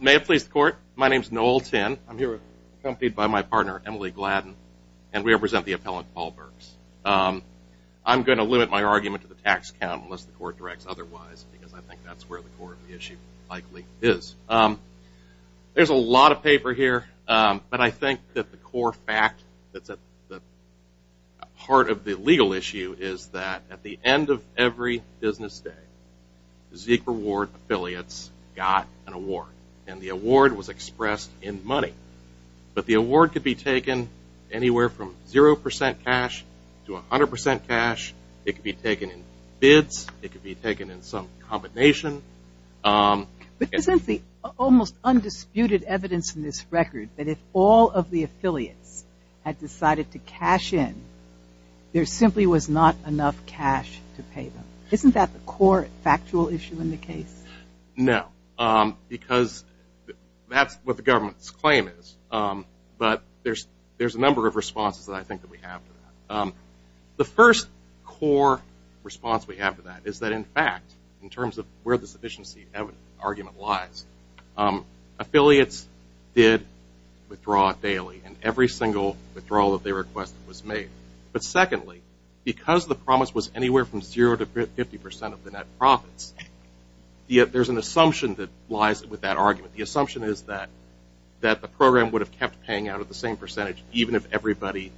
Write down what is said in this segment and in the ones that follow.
May it please the court, my name is Noel Tinn. I'm here accompanied by my partner Emily Gladden and we represent the appellant Paul Burks. I'm going to limit my argument to the tax count unless the court directs otherwise because I think that's where the core of the issue likely is. There's a lot of paper here but I think that the core fact that's at the heart of the legal issue is that at the end of every business day, Zeke Reward affiliates got an award and the award was expressed in money. But the award could be taken anywhere from zero percent cash to a hundred percent cash. It could be taken in bids. It could be taken in some combination. But isn't the almost undisputed evidence in this record that if all of the affiliates had decided to cash in, there simply was not enough cash to pay them? Isn't that the core factual issue in the case? No, because that's what the government's claim is. But there's there's a number of responses that I think that we have. The first core response we have to that is that in fact, in terms of where the sufficiency argument lies, affiliates did withdraw daily and every single withdrawal that they requested was made. But secondly, because the promise was anywhere from zero to fifty percent of the net profits, there's an assumption that lies with that argument. The assumption is that that the program would have kept paying out at the same percentage even if everybody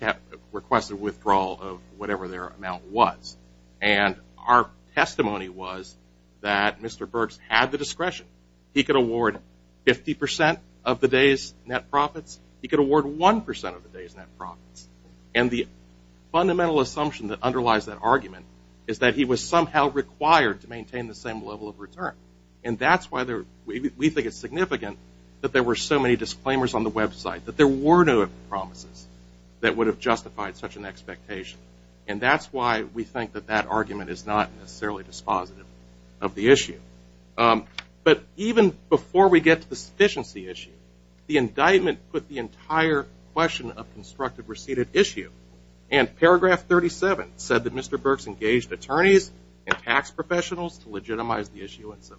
had requested withdrawal of whatever their amount was. And our testimony was that Mr. Burks had the discretion. He could award fifty percent of the day's net profits. He could award one percent of the day's net profits. And the fundamental assumption that underlies that argument is that he was somehow required to maintain the same level of return. And that's why there we think it's significant that there were so many disclaimers on the website, that there were no promises that would have justified such an expectation. And that's why we think that that argument is not necessarily dispositive of the issue. But even before we get to the sufficiency issue, the indictment put the entire question of constructive receipt at issue. And paragraph 37 said that Mr. Burks engaged attorneys and tax professionals to legitimize the issuance of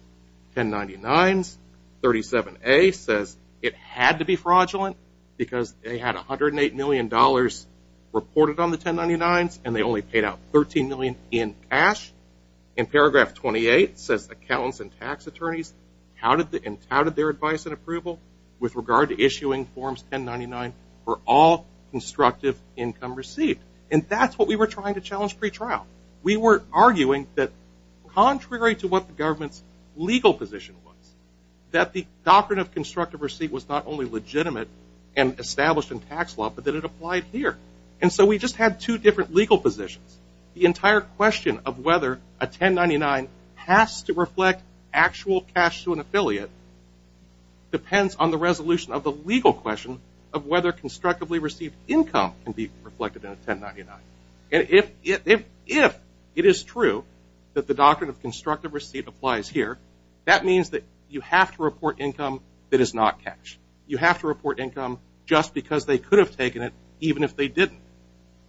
1099s. 37A says it had to be fraudulent because they had 108 million dollars reported on the 1099s and they only paid out 13 million in cash. And paragraph 28 says accountants and tax attorneys touted their advice and approval with regard to issuing forms 1099 for all constructive income received. And that's what we were trying to challenge pretrial. We were arguing that contrary to what the government's legal position was, that the doctrine of constructive receipt was not only legitimate and established in tax law, but that it applied here. And so we just had two different legal positions. The entire question of whether a 1099 has to reflect actual cash to an attorney depends on the resolution of the legal question of whether constructively received income can be reflected in a 1099. And if it is true that the doctrine of constructive receipt applies here, that means that you have to report income that is not cash. You have to report income just because they could have taken it even if they didn't.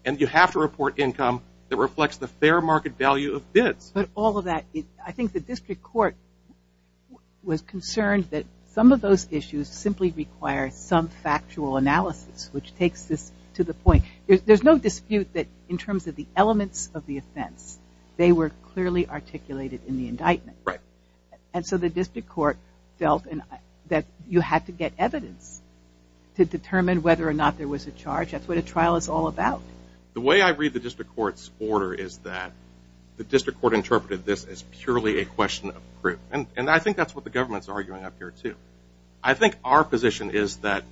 And you have to report income that reflects the fair market value of bids. But all of that, I think the district court was concerned that some of those issues simply require some factual analysis, which takes this to the point. There's no dispute that in terms of the elements of the offense, they were clearly articulated in the indictment. And so the district court felt that you had to get evidence to determine whether or not there was a charge. That's what a trial is all about. The way I read the district court's order is that the district court interpreted this as purely a question of proof. And I think that's what the government's arguing up here too. I think our position is that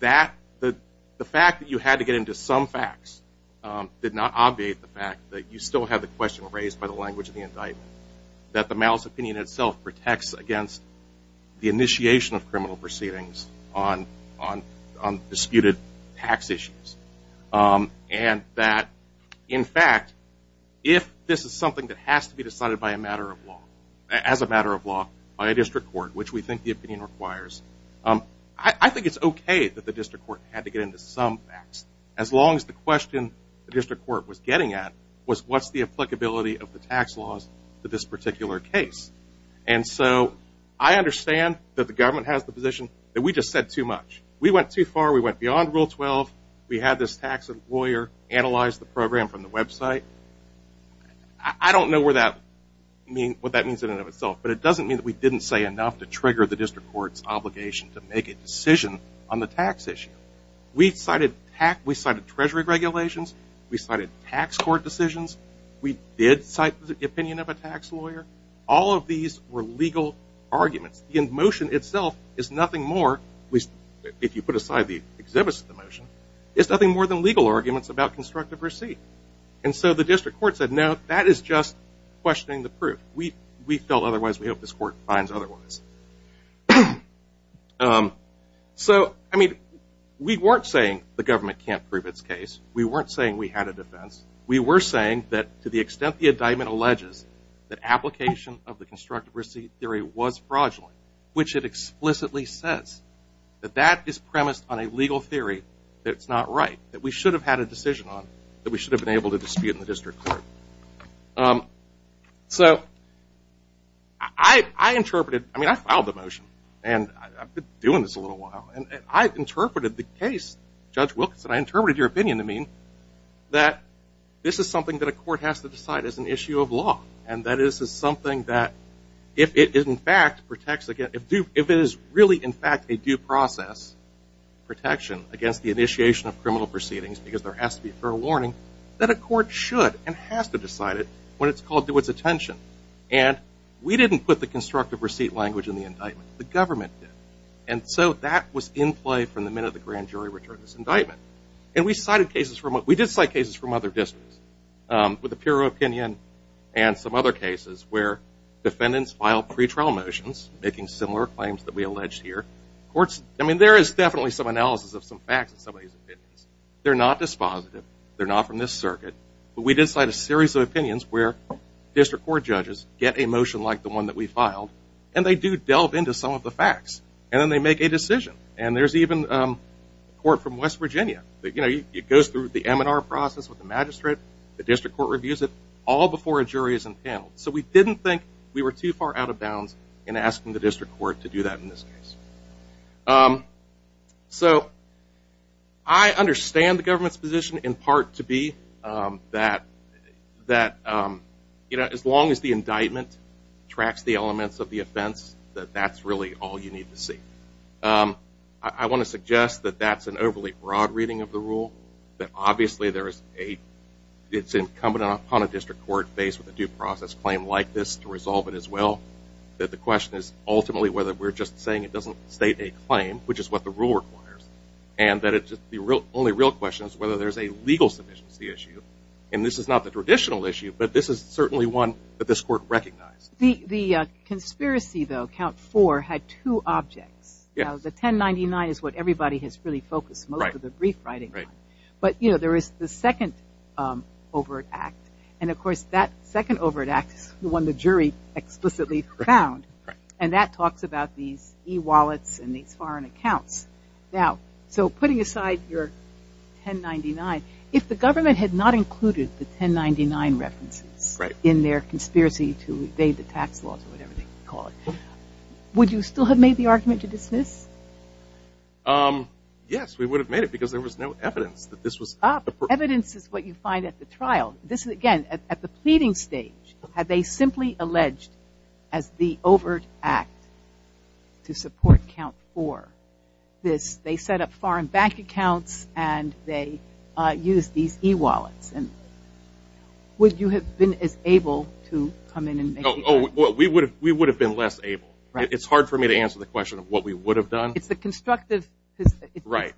the fact that you had to get into some facts did not obviate the fact that you still have the question raised by the language of the indictment. That the malice opinion itself protects against the initiation of criminal proceedings on disputed tax issues. And that, in fact, if this is something that has to be decided by a matter of law, as a matter of law, by a district court, which we think the opinion requires, I think it's okay that the district court had to get into some facts, as long as the question the district court was getting at was what's the applicability of the tax laws to this particular case? And so I understand that the government has the position that we just said too much. We went too far. We went beyond Rule 12. We had this tax lawyer analyze the program from the website. I don't know what that means in and of itself, but it doesn't mean that we didn't say enough to trigger the district court's obligation to make a decision on the tax issue. We cited Treasury regulations. We cited tax court decisions. We did cite the opinion of a tax lawyer. All of these were legal arguments. The motion itself is nothing more, if you put aside the exhibits of the motion, it's nothing more than legal arguments about constructive receipt. And so the district court said, no, that is just questioning the proof. We felt otherwise. We hope this court finds otherwise. So, I mean, we weren't saying the government can't prove its case. We weren't saying we had a defense. We were saying that to the extent the indictment alleges that application of the constructive receipt theory was fraudulent, which it explicitly says that that is premised on a legal theory that's not right, that we should have had a decision on, that we should have been able to dispute in the district court. So I interpreted, I mean, I filed the motion and I've been doing this a little while, and I interpreted the case, Judge Wilkinson, I interpreted your opinion to mean that this is something that a court has to protect, if it is really, in fact, a due process protection against the initiation of criminal proceedings because there has to be a fair warning, that a court should and has to decide it when it's called to its attention. And we didn't put the constructive receipt language in the indictment. The government did. And so that was in play from the minute the grand jury returned this indictment. And we cited cases from, we did cite cases from other districts with a pure opinion and some other cases where defendants filed pretrial motions, making similar claims that we alleged here. Courts, I mean, there is definitely some analysis of some facts in some of these opinions. They're not dispositive. They're not from this circuit. But we did cite a series of opinions where district court judges get a motion like the one that we filed, and they do delve into some of the facts. And then they make a decision. And there's even a court from West Virginia that, you know, it goes through the M&R process with the magistrate, the M&R process, all before a jury is entailed. So we didn't think we were too far out of bounds in asking the district court to do that in this case. So I understand the government's position in part to be that, you know, as long as the indictment tracks the elements of the offense, that that's really all you need to see. I want to suggest that that's an overly broad reading of the due process claim like this to resolve it as well. That the question is ultimately whether we're just saying it doesn't state a claim, which is what the rule requires, and that it's just the only real question is whether there's a legal sufficiency issue. And this is not the traditional issue, but this is certainly one that this court recognized. The conspiracy, though, count four, had two objects. The 1099 is what everybody has really focused most of the brief writing on. But, you know, there is the second overt act, and of course that second overt act is the one the jury explicitly found. And that talks about these e-wallets and these foreign accounts. Now, so putting aside your 1099, if the government had not included the 1099 references in their conspiracy to evade the tax laws or whatever they call it, would you still have made the argument to dismiss? Yes, we would have made it because there was no evidence that this was evidence is what you find at the trial. This is, again, at the pleading stage, have they simply alleged as the overt act to support count four? This, they set up foreign bank accounts, and they use these e-wallets. And would you have been as able to come in and make? Oh, we would have, we would have been less able. It's hard for me to answer the question of what we would have done. It's the constructive. Right.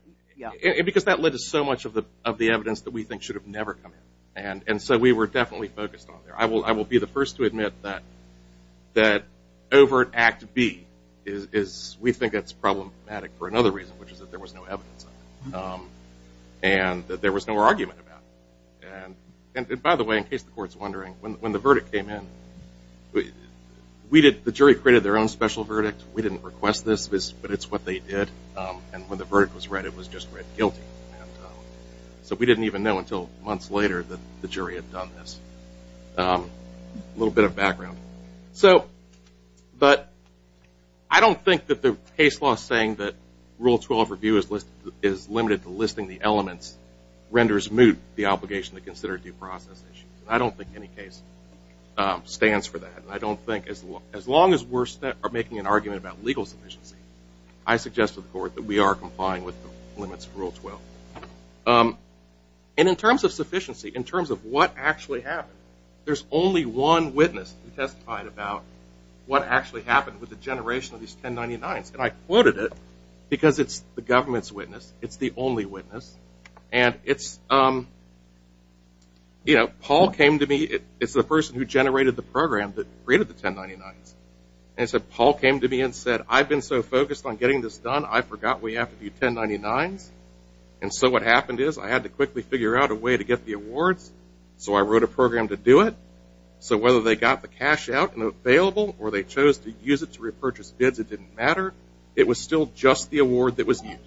Because that led to so much of the evidence that we think should have never come in. And so we were definitely focused on there. I will be the first to admit that overt act B is, we think it's problematic for another reason, which is that there was no evidence of it. And that there was no argument about it. And by the way, in case the court's wondering, when the verdict came in, we did, the jury created their own special verdict. We didn't request this, but it's what they did. And when the verdict was read, it was just read guilty. So we didn't even know until months later that the jury had done this. A little bit of background. So, but I don't think that the case law saying that Rule 12 review is limited to listing the elements renders moot the obligation to consider due process issues. I don't think any case stands for that. I don't think, as long as we're making an argument about legal sufficiency, I suggest to the court that we are complying with the limits of Rule 12. And in terms of sufficiency, in terms of what actually happened, there's only one witness who testified about what actually happened with the generation of these 1099s. And I quoted it, because it's the government's witness. It's the only witness. And it's, you know, Paul came to me, it's the person who generated the program that created the program. He said, I've been so focused on getting this done, I forgot we have to do 1099s. And so what happened is I had to quickly figure out a way to get the awards. So I wrote a program to do it. So whether they got the cash out and available, or they chose to use it to repurchase bids, it didn't matter. It was still just the award that was used.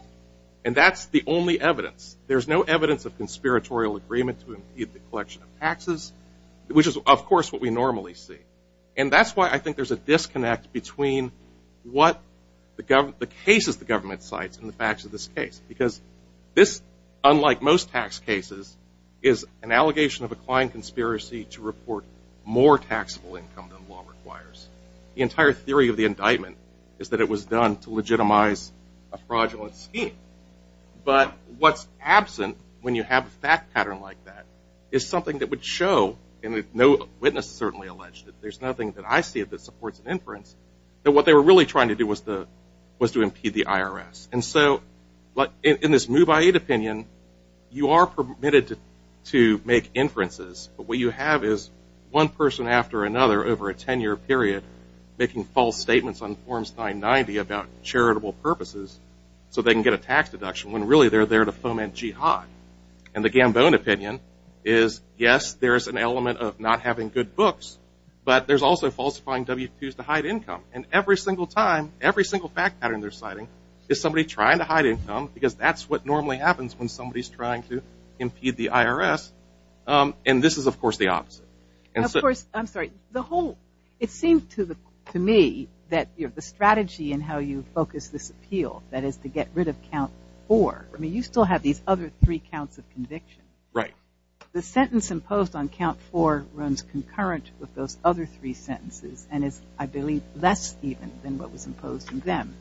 And that's the only evidence. There's no evidence of conspiratorial agreement to impede the collection of taxes, which is, of course, what we normally see. And that's why I think there's a disconnect between what the cases the government cites and the facts of this case. Because this, unlike most tax cases, is an allegation of a client conspiracy to report more taxable income than law requires. The entire theory of the indictment is that it was done to legitimize a fraudulent scheme. But what's absent when you have a fact pattern like that is something that would show, and no witness has certainly alleged it, there's nothing that I see that supports an inference, that what they were really trying to do was to impede the IRS. And so in this Mubaiyit opinion, you are permitted to make inferences. But what you have is one person after another over a 10-year period making false statements on Forms 990 about charitable purposes so they can get a tax deduction, when really they're there to foment jihad. And the Gambone opinion is, yes, there's an element of not having good books, but there's also falsifying W-2s to hide income. And every single time, every single fact pattern they're citing is somebody trying to hide income, because that's what normally happens when somebody's trying to impede the IRS. And this is, of course, the opposite. Of course, I'm sorry, the whole, it seems to me that the strategy in how you focus this appeal, that is to get rid of Count 4, I mean, you still have these other three counts of conviction. Right. The sentence imposed on Count 4 runs concurrent with those other three sentences and is, I believe, less even than what was imposed on them.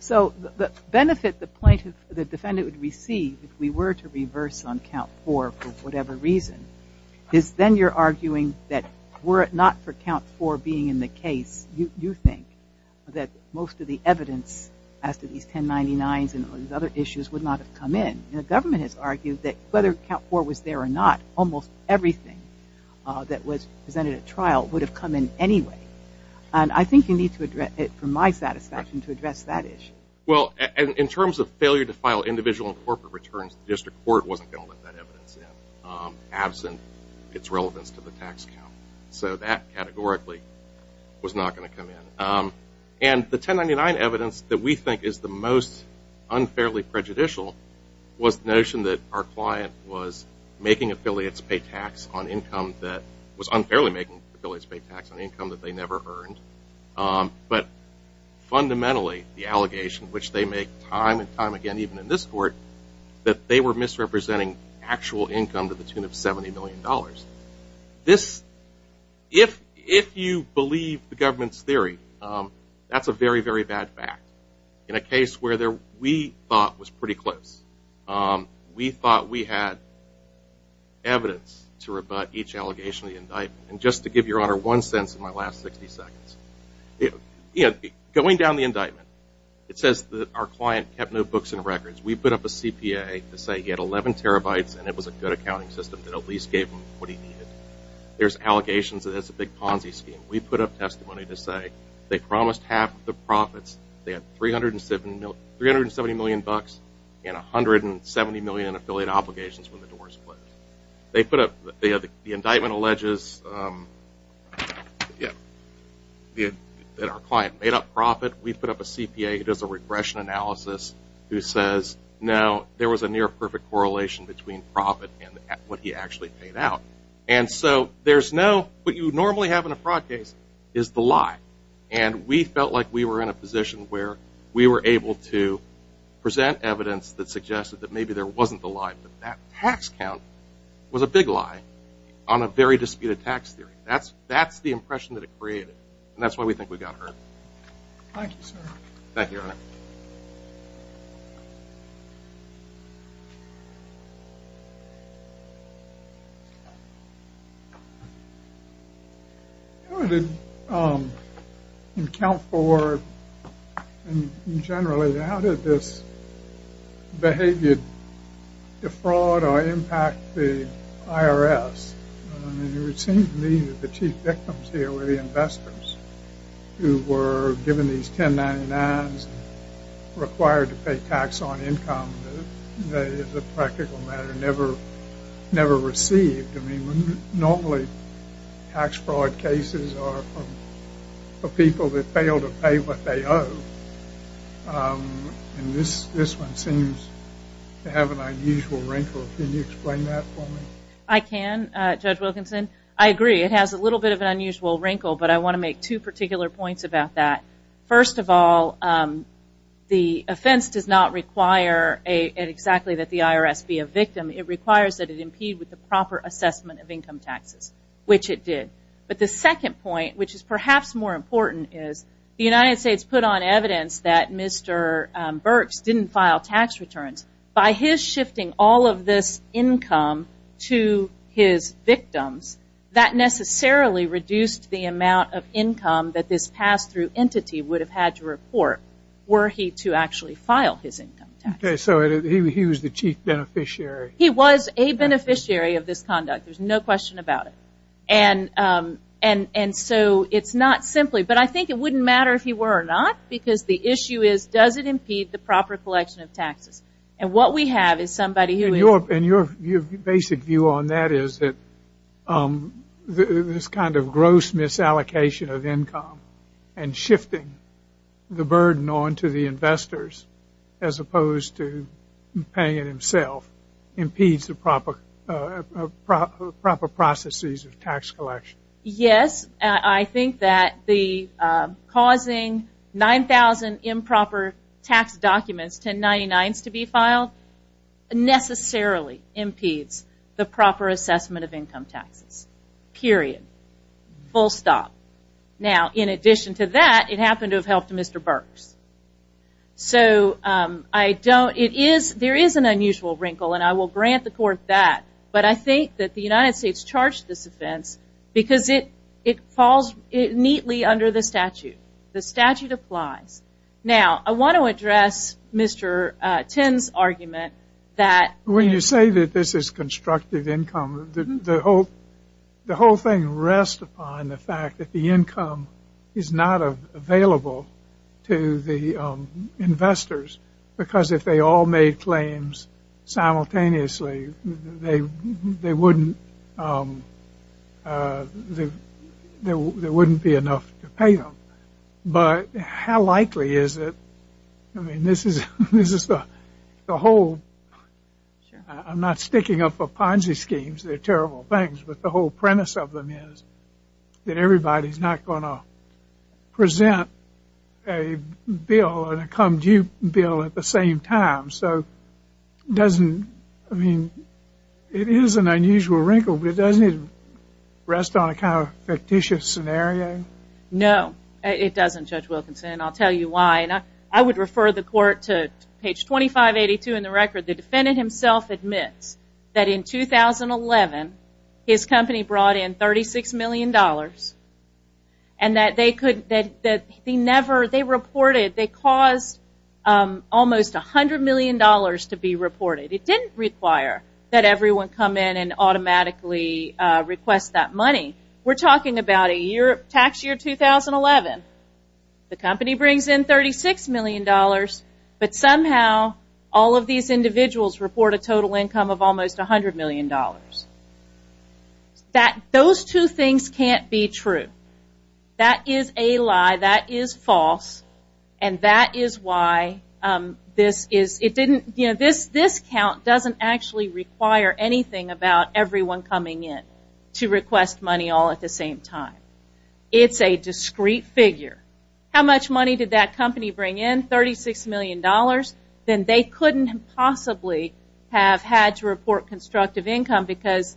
So the benefit the defendant would receive if we were to reverse on Count 4 for whatever reason is then you're arguing that were it not for the evidence as to these 1099s and these other issues would not have come in. And the government has argued that whether Count 4 was there or not, almost everything that was presented at trial would have come in anyway. And I think you need to address it from my satisfaction to address that issue. Right. Well, in terms of failure to file individual and corporate returns, the district court wasn't going to let that evidence in, absent its relevance to the tax count. So that, categorically, was not going to come in. And the 1099 evidence that we think is the most unfairly prejudicial was the notion that our client was making affiliates pay tax on income that was unfairly making affiliates pay tax on income that they never earned. But fundamentally, the allegation, which they make time and time again even in this court, that they were misrepresenting actual income to the tune of $70 million. This, if you believe the government's theory, that's a very, very bad fact. In a case where we thought was pretty close. We thought we had evidence to rebut each allegation of the indictment. And just to give your honor one sense in my last 60 seconds, going down the indictment, it says that our client kept no books and records. We put up a CPA to say he had 11 terabytes and it was a good accounting system that at least gave him what he needed. There's allegations that it's a big Ponzi scheme. We put up testimony to say they promised half of the profits, they had $370 million, and $170 million in affiliate obligations when the doors closed. They put up, the indictment alleges that our client made up profit. We put up a CPA who does a regression analysis who says, no, there was a near perfect correlation between profit and what he actually paid out. And so there's no, what you normally have in a fraud case is the lie. And we felt like we were in a position where we were able to present evidence that suggested that maybe there wasn't the lie, but that tax count was a big lie on a very disputed tax theory. That's the impression that it created. And that's why we think we got hurt. Thank you, sir. Thank you, your honor. How did, in account for, generally, how did this behavior defraud or impact the IRS? I mean, it would seem to me that the chief victims here were the people who were required to pay tax on income that, as a practical matter, never received. I mean, normally, tax fraud cases are for people that fail to pay what they owe. And this one seems to have an unusual wrinkle. Can you explain that for me? I can, Judge Wilkinson. I agree. It has a little bit of an unusual wrinkle, but I want to make two particular points about that. First of all, the offense does not require exactly that the IRS be a victim. It requires that it impede with the proper assessment of income taxes, which it did. But the second point, which is perhaps more important, is the United States put on evidence that Mr. Burks didn't file tax returns. By his shifting all of this income to his victims, that necessarily reduced the amount of income that this pass-through entity would have had to report, were he to actually file his income tax. So he was the chief beneficiary. He was a beneficiary of this conduct. There's no question about it. And so it's not simply. But I think it wouldn't matter if he were or not, because the issue is, does it impede the proper collection of taxes? And what we have is somebody who is- And your basic view on that is that this kind of gross misallocation of income and shifting the burden on to the investors, as opposed to paying it himself, impedes the proper processes of tax collection. Yes. I think that the causing 9,000 improper tax documents, 1099s to be exact, necessarily impedes the proper assessment of income taxes. Period. Full stop. Now, in addition to that, it happened to have helped Mr. Burks. So I don't- There is an unusual wrinkle, and I will grant the court that. But I think that the United States charged this offense because it falls neatly under the statute. The statute applies. Now, I want to address Mr. Tin's argument that- I would say that this is constructive income. The whole thing rests upon the fact that the income is not available to the investors, because if they all made claims simultaneously, there wouldn't be enough to pay them. But how likely is it- I mean, this is the whole- I'm not sticking up for Ponzi schemes. They're terrible things. But the whole premise of them is that everybody's not going to present a bill and a come due bill at the same time. So it is an unusual wrinkle, but it doesn't rest on a kind of fictitious scenario. No, it doesn't, Judge Wilkinson, and I'll tell you why. And I would refer the court to page 2582 in the record. The defendant himself admits that in 2011, his company brought in $36 million, and that they reported- they caused almost $100 million to be reported. It didn't require that everyone come in and automatically request that money. We're talking about a tax year 2011. The company brings in $36 million, but somehow all of these individuals report a total income of almost $100 million. Those two things can't be true. That is a lie. That is false. And that is why this is- it didn't- this count doesn't actually require anything about everyone coming in to request money all at the same time. It's a discreet figure. How much money did that company bring in? $36 million. Then they couldn't possibly have had to report constructive income because-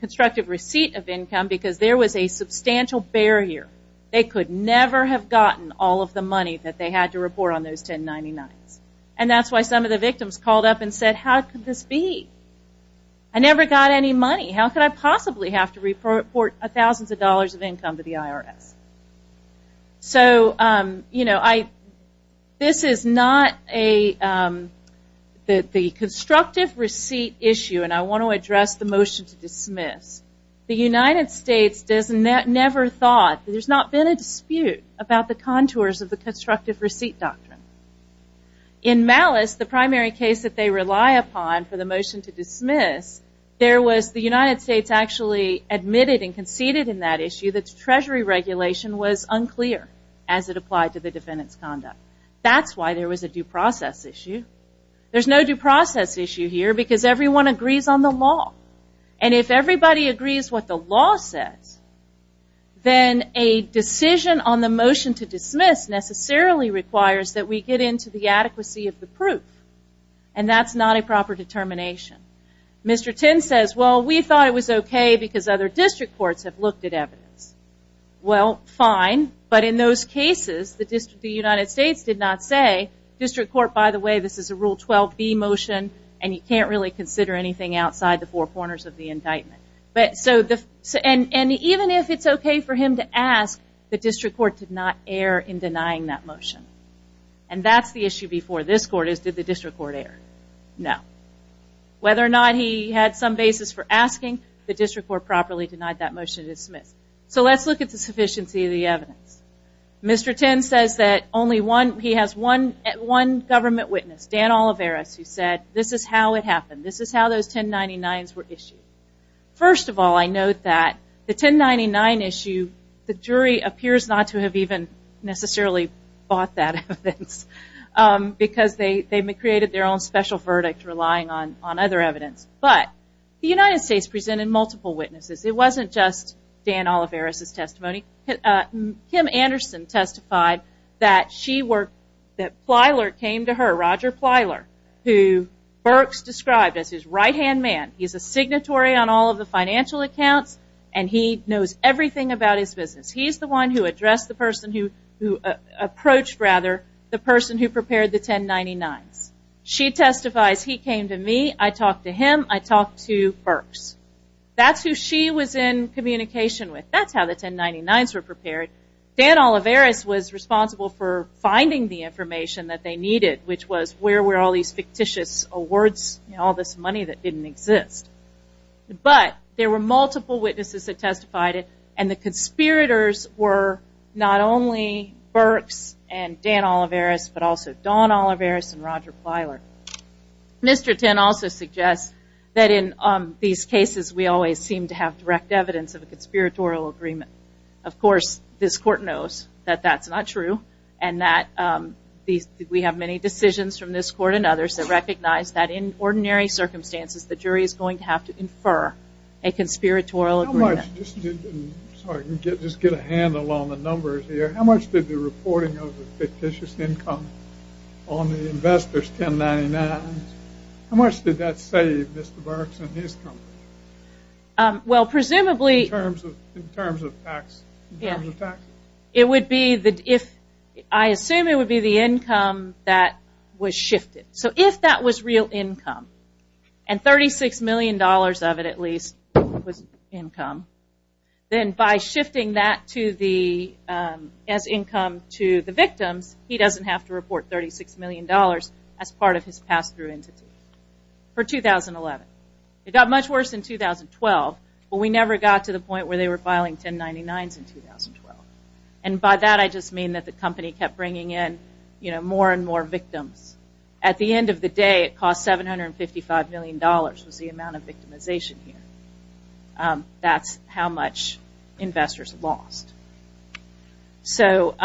constructive receipt of income because there was a substantial barrier. They could never have gotten all of the money that they had to report on those 1099s. That's why some of the victims called up and said, how could this be? I never got any money. How could I possibly have to report thousands of dollars of income to the IRS? This is not a- the constructive receipt issue, and I want to address the motion to dismiss. The United States never thought- there's not been a dispute about the constructive receipt doctrine. In Malice, the primary case that they rely upon for the motion to dismiss, there was- the United States actually admitted and conceded in that issue that treasury regulation was unclear as it applied to the defendant's conduct. That's why there was a due process issue. There's no due process issue here because everyone agrees on the law. And if everybody agrees what the law says, then a decision on the motion to dismiss necessarily requires that we get into the adequacy of the proof. And that's not a proper determination. Mr. Tinn says, well, we thought it was okay because other district courts have looked at evidence. Well, fine. But in those cases, the United States did not say, district court, by the way, this is a Rule 12B motion, and you can't really consider anything outside the four corners of the indictment. And even if it's okay for him to ask, the district court did not err in that motion. And that's the issue before this court is, did the district court err? No. Whether or not he had some basis for asking, the district court properly denied that motion to dismiss. So let's look at the sufficiency of the evidence. Mr. Tinn says that only one- he has one government witness, Dan Oliveras, who said, this is how it happened. This is how those 1099s were issued. First of all, I note that the 1099 issue, the jury appears not to have even necessarily bought that evidence. Because they created their own special verdict relying on other evidence. But the United States presented multiple witnesses. It wasn't just Dan Oliveras' testimony. Kim Anderson testified that she worked- that Plyler came to her, Roger Plyler, who Burks described as his right-hand man. He's a signatory on all of the financial accounts, and he knows everything about his business. He's the one who addressed the person who approached, rather, the person who prepared the 1099s. She testifies, he came to me, I talked to him, I talked to Burks. That's who she was in communication with. That's how the 1099s were prepared. Dan Oliveras was responsible for finding the information that they needed, which was where were all these fictitious awards, all this money that didn't exist. But there were multiple witnesses that testified it, and the conspirators were not only Burks and Dan Oliveras, but also Don Oliveras and Roger Plyler. Mr. Tinn also suggests that in these cases, we always seem to have direct evidence of a conspiratorial agreement. Of course, this court knows that that's not true, and that we have many decisions from this court and others that recognize that in ordinary circumstances, the jury is going to have to infer a conspiratorial agreement. How much, just to get a handle on the numbers here, how much did the reporting of the fictitious income on the investors' 1099s, how much did that save Mr. Burks and his company? Well, presumably, In terms of taxes? It would be, I assume it would be the income that was shifted. So if that was real income, and $36 million of it at least was income, then by shifting that as income to the victims, he doesn't have to report $36 million as part of his pass-through entity for 2011. It got much worse in 2012, but we never got to the point where they were filing 1099s in 2012. And by that, I just mean that the company kept bringing in more and At the end of the day, it cost $755 million was the amount of victimization here. That's how much investors lost. So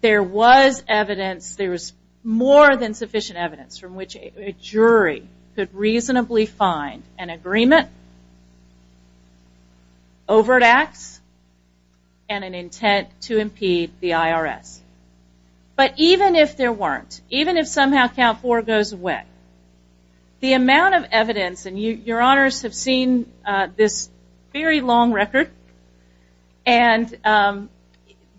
there was evidence, there was more than sufficient evidence from which a jury could reasonably find an agreement, overt acts, and an intent to impede the IRS. But even if there weren't, even if somehow count four goes away, the amount of evidence, and your honors have seen this very long record, and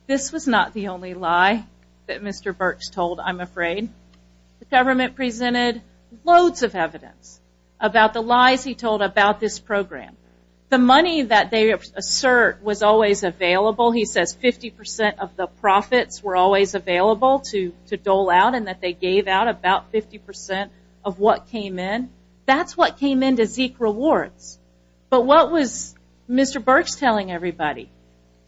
this was not the only lie that Mr. Burks told, I'm afraid. The government presented loads of evidence about the lies he told about this program. The money that they assert was always available. He says 50% of the profits were always available to dole out, and that they gave out about 50% of what came in. That's what came in to Zeek Rewards. But what was Mr. Burks telling everybody?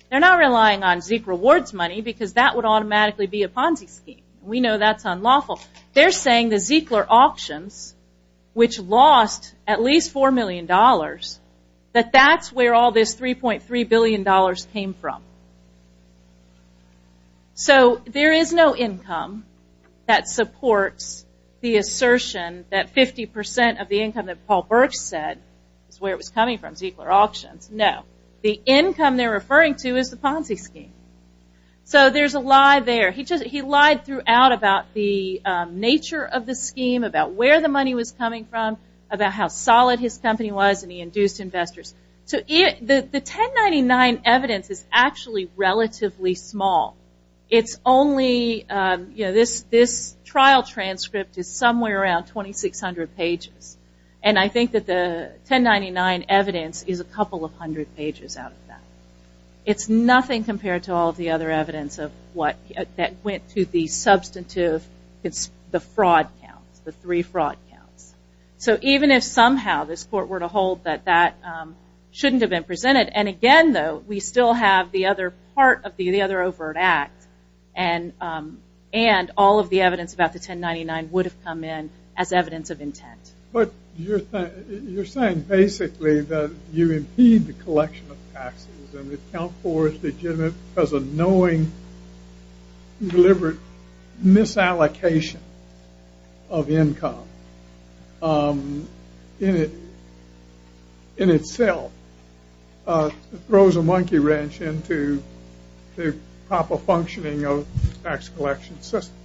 They're not relying on Zeek Rewards money, because that would automatically be a Ponzi scheme. We know that's unlawful. They're saying the Zekler auctions, which lost at least $4 million, that that's where all this $3.3 billion came from. So there is no income that supports the assertion that 50% of the income that Paul Burks said is where it was coming from, Zekler auctions. No. The income they're referring to is the Ponzi scheme. So there's a lie there. He lied throughout about the nature of the scheme, about where the money was coming from, about how solid his company was, and he induced investors. The 1099 evidence is actually relatively small. It's only, you know, this trial transcript is somewhere around 2,600 pages. And I think that the 1099 evidence is a couple of hundred pages out of that. It's nothing compared to all the other evidence that went to the substantive, it's the fraud counts, the three fraud counts. So even if somehow this court were to hold that that shouldn't have been presented, and again, though, we still have the other part of the other overt act, and all of the evidence about the 1099 would have come in as evidence of intent. But you're saying basically that you impede the collection of taxes and account for it as a knowing, deliberate misallocation of income in itself throws a monkey wrench into the proper functioning of the tax collection system.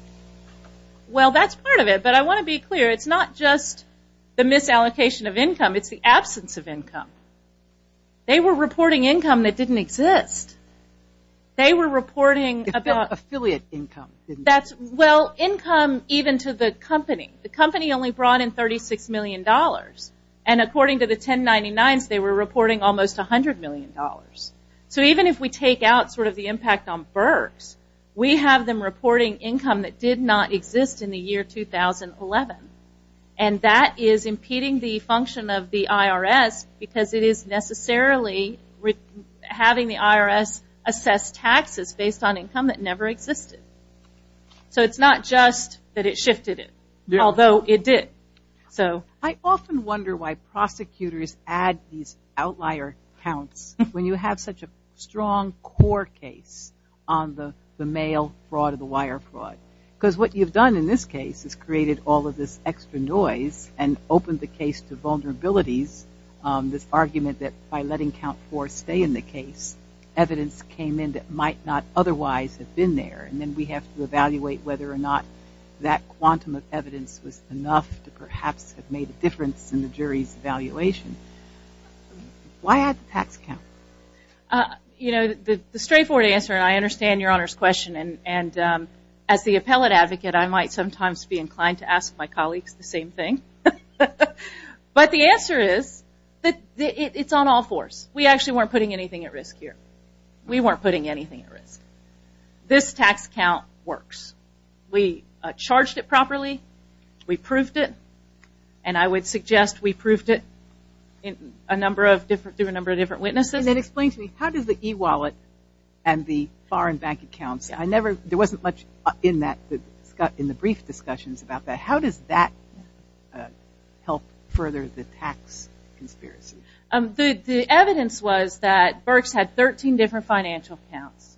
Well, that's part of it, but I want to be clear. It's not just the misallocation of income. It's the absence of income. They were reporting income that didn't exist. They were reporting about- Affiliate income. Didn't exist. Well, income even to the company. The company only brought in $36 million. And according to the 1099s, they were reporting almost $100 million. So even if we take out sort of the impact on Berks, we have them reporting income that did not exist in the year 2011. And that is impeding the function of the IRS because it is necessarily having the IRS assess taxes based on income that never existed. So it's not just that it shifted it, although it did. I often wonder why prosecutors add these outlier counts when you have such a strong core case on the mail fraud or the wire fraud. Because what you've done in this case is created all of this extra noise and opened the case to vulnerabilities, this argument that by letting count four stay in the case, evidence came in that might not otherwise have been there. And then we have to evaluate whether or not that quantum of evidence was enough to perhaps have made a difference in the jury's evaluation. Why add the tax count? You know, the straightforward answer, and I understand Your Honor's question, and as the appellate advocate, I might sometimes be inclined to ask my colleagues the same thing. But the answer is, it's on all fours. We actually weren't putting anything at risk here. We weren't putting anything at risk. This tax count works. We charged it properly. We proved it. And I would suggest we proved it through a number of different witnesses. And then explain to me, how does the e-wallet and the foreign bank accounts, there wasn't much in the brief discussions about that, how does that help further the tax conspiracy? The evidence was that Birx had 13 different financial accounts.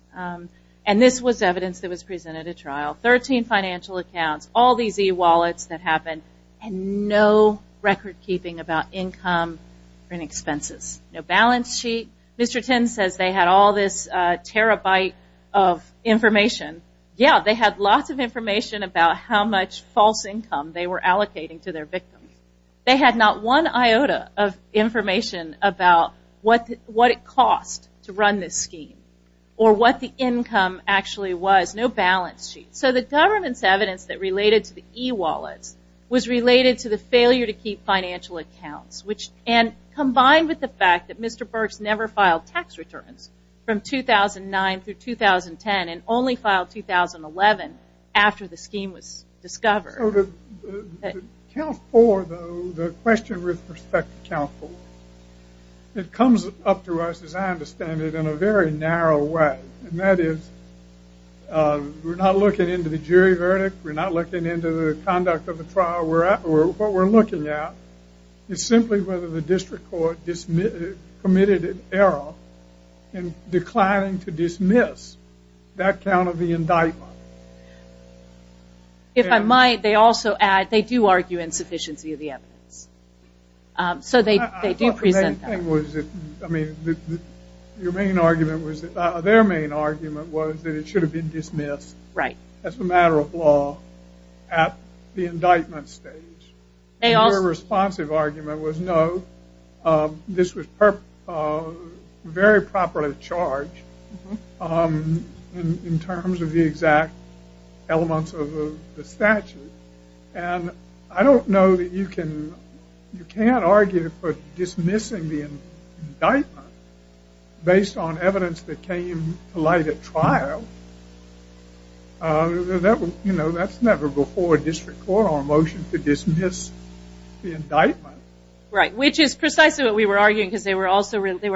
And this was evidence that was presented at trial. Thirteen financial accounts, all these e-wallets that happened, and no record keeping about income and expenses. No balance sheet. Mr. Tins says they had all this terabyte of information. Yeah, they had lots of information about how much false income they were allocating to their victims. They had not one iota of information about what it cost to run this scheme. Or what the income actually was. No balance sheet. So the government's evidence that related to the e-wallets was related to the failure to keep financial accounts. And combined with the fact that Mr. Birx never filed tax returns from 2009 through 2010 and only filed 2011 after the scheme was discovered. So the count for the question with respect to count for, it comes up to us, as I understand it, in a very narrow way. And that is, we're not looking into the jury verdict, we're not looking into the conduct of the trial, what we're looking at is simply whether the district court committed an error in declining to dismiss that count of the indictment. If I might, they also add, they do argue insufficiency of the evidence. So they do present that. I mean, their main argument was that it should have been dismissed as a matter of law at the indictment stage. And their responsive argument was no, this was very properly charged in terms of the exact elements of the statute. And I don't know that you can, you can't argue for dismissing the indictment based on evidence that came to light at trial. You know, that's never before a district court or a motion to dismiss the indictment. Which is precisely what we were arguing, because they were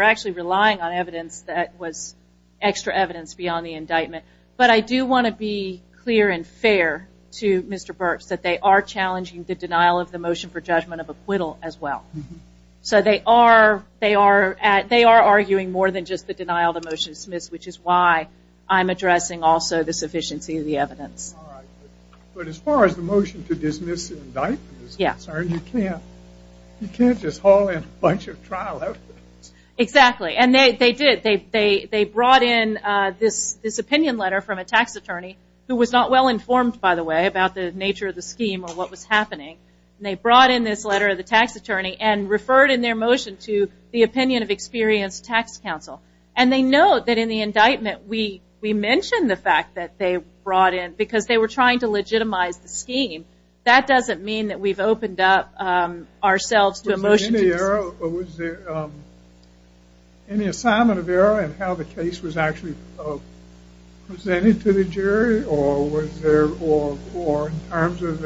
actually relying on evidence that was extra evidence beyond the indictment. But I do want to be clear and fair to Mr. Burks that they are challenging the denial of the motion for judgment of acquittal as well. So they are, they are, they are arguing more than just the denial of the motion to dismiss, which is why I'm addressing also the sufficiency of the evidence. But as far as the motion to dismiss the indictment is concerned, you can't, you can't just haul in a bunch of trial evidence. Exactly. And they did, they brought in this opinion letter from a tax attorney who was not well informed by the way about the nature of the scheme or what was happening. They brought in this letter of the tax attorney and referred in their motion to the opinion of experienced tax counsel. And they note that in the indictment, we, we mentioned the fact that they brought in, because they were trying to legitimize the scheme. That doesn't mean that we've opened up ourselves to a motion to dismiss. Was there any error, was there any assignment of error in how the case was actually presented to the jury or was there, or in terms of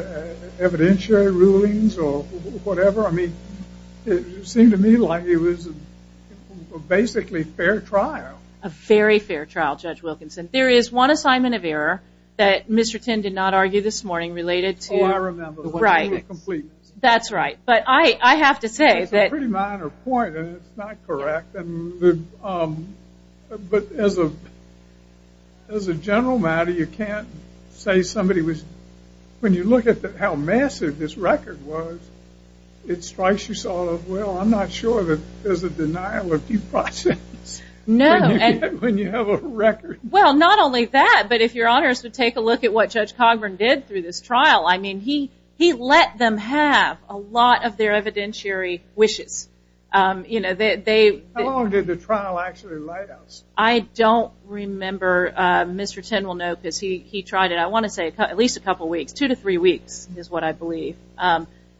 evidentiary rulings or whatever, I mean, it seemed to me like it was basically a fair trial. A very fair trial, Judge Wilkinson. There is one assignment of error that Mr. Tinn did not argue this morning related to the witnessing of completeness. That's right. But I, I have to say that. It's a pretty minor point and it's not correct. But as a, as a general matter, you can't say somebody was, when you look at how massive this record was, it strikes you sort of, well, I'm not sure that there's a denial of due process. No. When you have a record. Well not only that, but if your honor is to take a look at what Judge Cogburn did through this trial, I mean, he, he let them have a lot of their evidentiary wishes. You know, they, they. How long did the trial actually last? I don't remember, Mr. Tinn will know because he, he tried it, I want to say at least a few weeks is what I believe.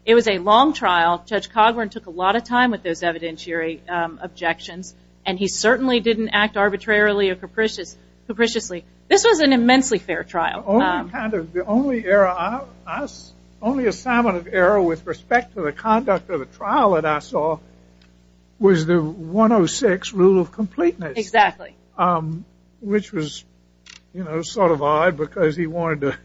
It was a long trial. Judge Cogburn took a lot of time with those evidentiary objections and he certainly didn't act arbitrarily or capricious, capriciously. This was an immensely fair trial. Only kind of, the only error I, I, only assignment of error with respect to the conduct of the Exactly. Which was, you know, sort of odd because he wanted to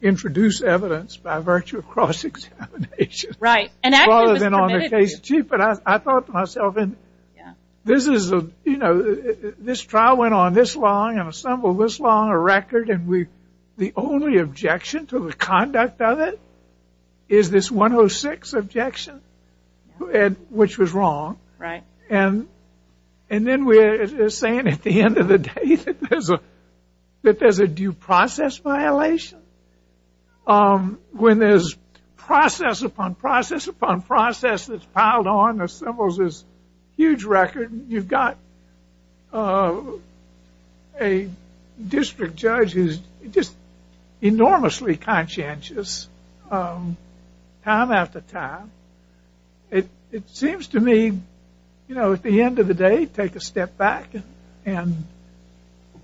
introduce evidence by virtue of cross-examination. Right. Rather than on the case sheet, but I, I thought to myself, this is a, you know, this trial went on this long and assembled this long a record and we, the only objection to the conduct of it is this 106 objection. Which was wrong. Right. And, and then we're saying at the end of the day that there's a, that there's a due process violation. When there's process upon process upon process that's piled on and assembles this huge record and you've got a district judge who's just enormously conscientious time after time. It, it seems to me, you know, at the end of the day, take a step back and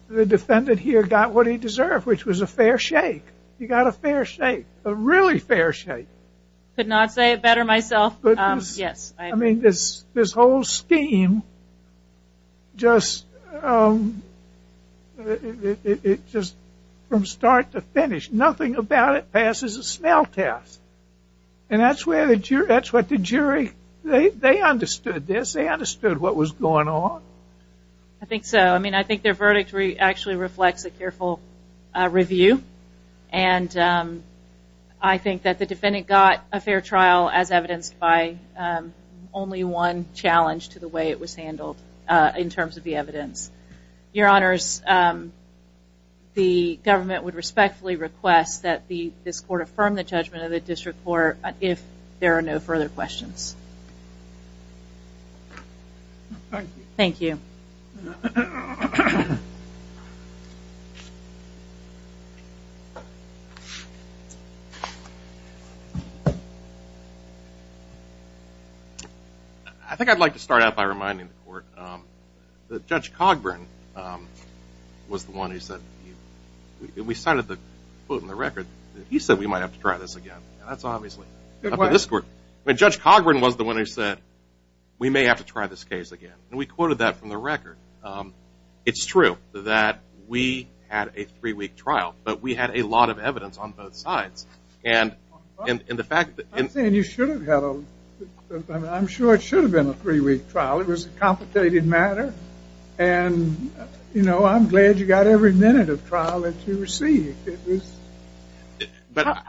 the defendant here got what he deserved, which was a fair shake. You got a fair shake. A really fair shake. Could not say it better myself. Yes. I mean, this, this whole scheme just, it, it, it just from start to finish, nothing about it passes a smell test. And that's where the jury, that's what the jury, they, they understood this. They understood what was going on. I think so. I mean, I think their verdict actually reflects a careful review and I think that the defendant got a fair trial as evidenced by only one challenge to the way it was handled in terms of the evidence. Your honors, the government would respectfully request that the, this court affirm the judgment of the district court if there are no further questions. Thank you. Thank you. I think I'd like to start out by reminding the court that Judge Cogburn was the one who said, we may have to try this case again, and we quoted that from the record. It's true that we had a three week trial, but we had a lot of evidence on both sides. And in the fact that you should have had, I'm sure it should have been a three week trial. It was a complicated matter and you know, I'm glad you got every minute of trial that you received. It was...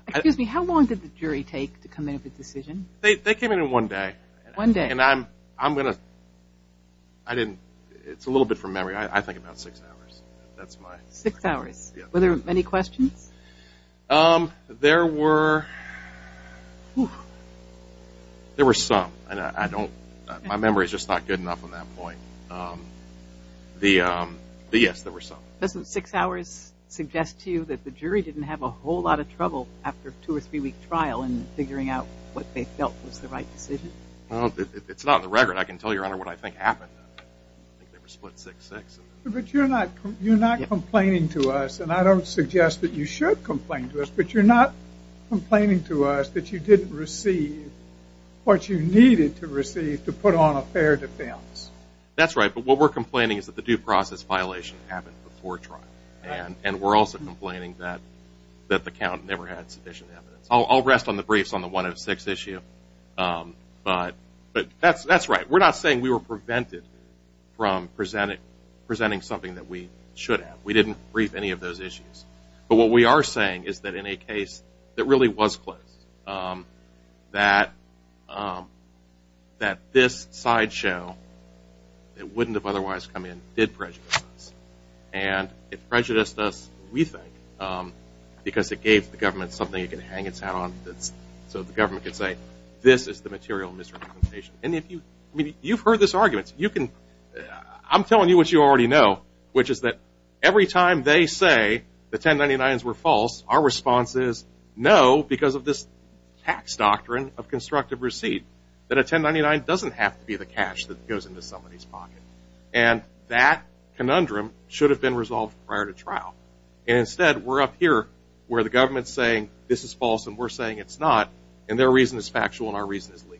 Excuse me, how long did the jury take to come in with a decision? They came in in one day. One day. And I'm going to, I didn't, it's a little bit from memory. I think about six hours. That's my... Six hours. Were there many questions? There were, there were some and I don't, my memory's just not good enough on that point. The yes, there were some. Doesn't six hours suggest to you that the jury didn't have a whole lot of trouble after two or three week trial in figuring out what they felt was the right decision? It's not in the record. I can tell you, Your Honor, what I think happened. I think they were split 6-6. But you're not, you're not complaining to us and I don't suggest that you should complain to us, but you're not complaining to us that you didn't receive what you needed to receive to put on a fair defense. That's right. But what we're complaining is that the due process violation happened before trial. And we're also complaining that the count never had sufficient evidence. I'll rest on the briefs on the 106 issue, but that's right. We're not saying we were prevented from presenting something that we should have. We didn't brief any of those issues. But what we are saying is that in a case that really was closed, that this sideshow that wouldn't have otherwise come in did prejudice us. And it prejudiced us, we think, because it gave the government something it could hang its hat on, so the government could say, this is the material misrepresentation. And if you, I mean, you've heard this argument, you can, I'm telling you what you already know, which is that every time they say the 1099s were false, our response is, no, because of this tax doctrine of constructive receipt, that a 1099 doesn't have to be the cash that goes into somebody's pocket. And that conundrum should have been resolved prior to trial. And instead, we're up here where the government's saying, this is false, and we're saying it's not, and their reason is factual and our reason is legal.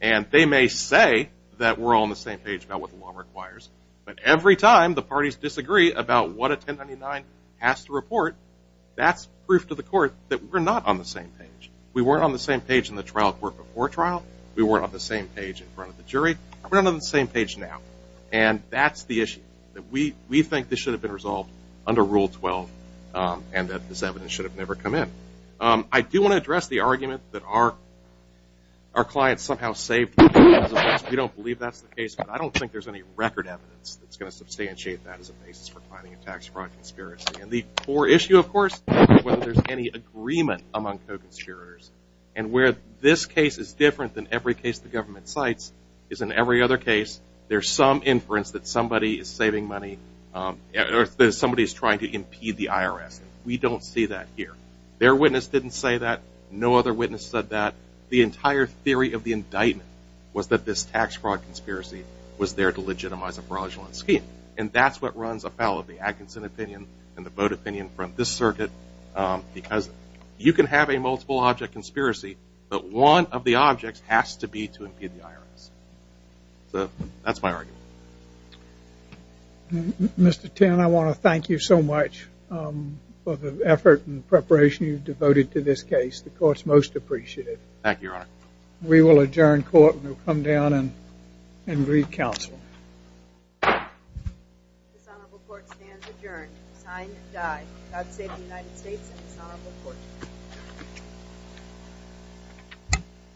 And they may say that we're all on the same page about what the law requires. But every time the parties disagree about what a 1099 has to report, that's proof to the court that we're not on the same page. We weren't on the same page in the trial court before trial. We weren't on the same page in front of the jury. We're not on the same page now. And that's the issue, that we think this should have been resolved under Rule 12, and that this evidence should have never come in. I do want to address the argument that our clients somehow saved the business, we don't believe that's the case. But I don't think there's any record evidence that's going to substantiate that as a basis for finding a tax fraud conspiracy. And the core issue, of course, is whether there's any agreement among co-conspirators. And where this case is different than every case the government cites is in every other case, there's some inference that somebody is saving money, or that somebody is trying to impede the IRS. We don't see that here. Their witness didn't say that. No other witness said that. The entire theory of the indictment was that this tax fraud conspiracy was there to legitimize a fraudulent scheme. And that's what runs afoul of the Atkinson opinion and the Bode opinion from this circuit, because you can have a multiple object conspiracy, but one of the objects has to be to impede the IRS. So that's my argument. Mr. Tinn, I want to thank you so much for the effort and preparation you've devoted to this case. It's the court's most appreciated. Thank you, Your Honor. We will adjourn court and we'll come down and read counsel. The dishonorable court stands adjourned. Signed and died.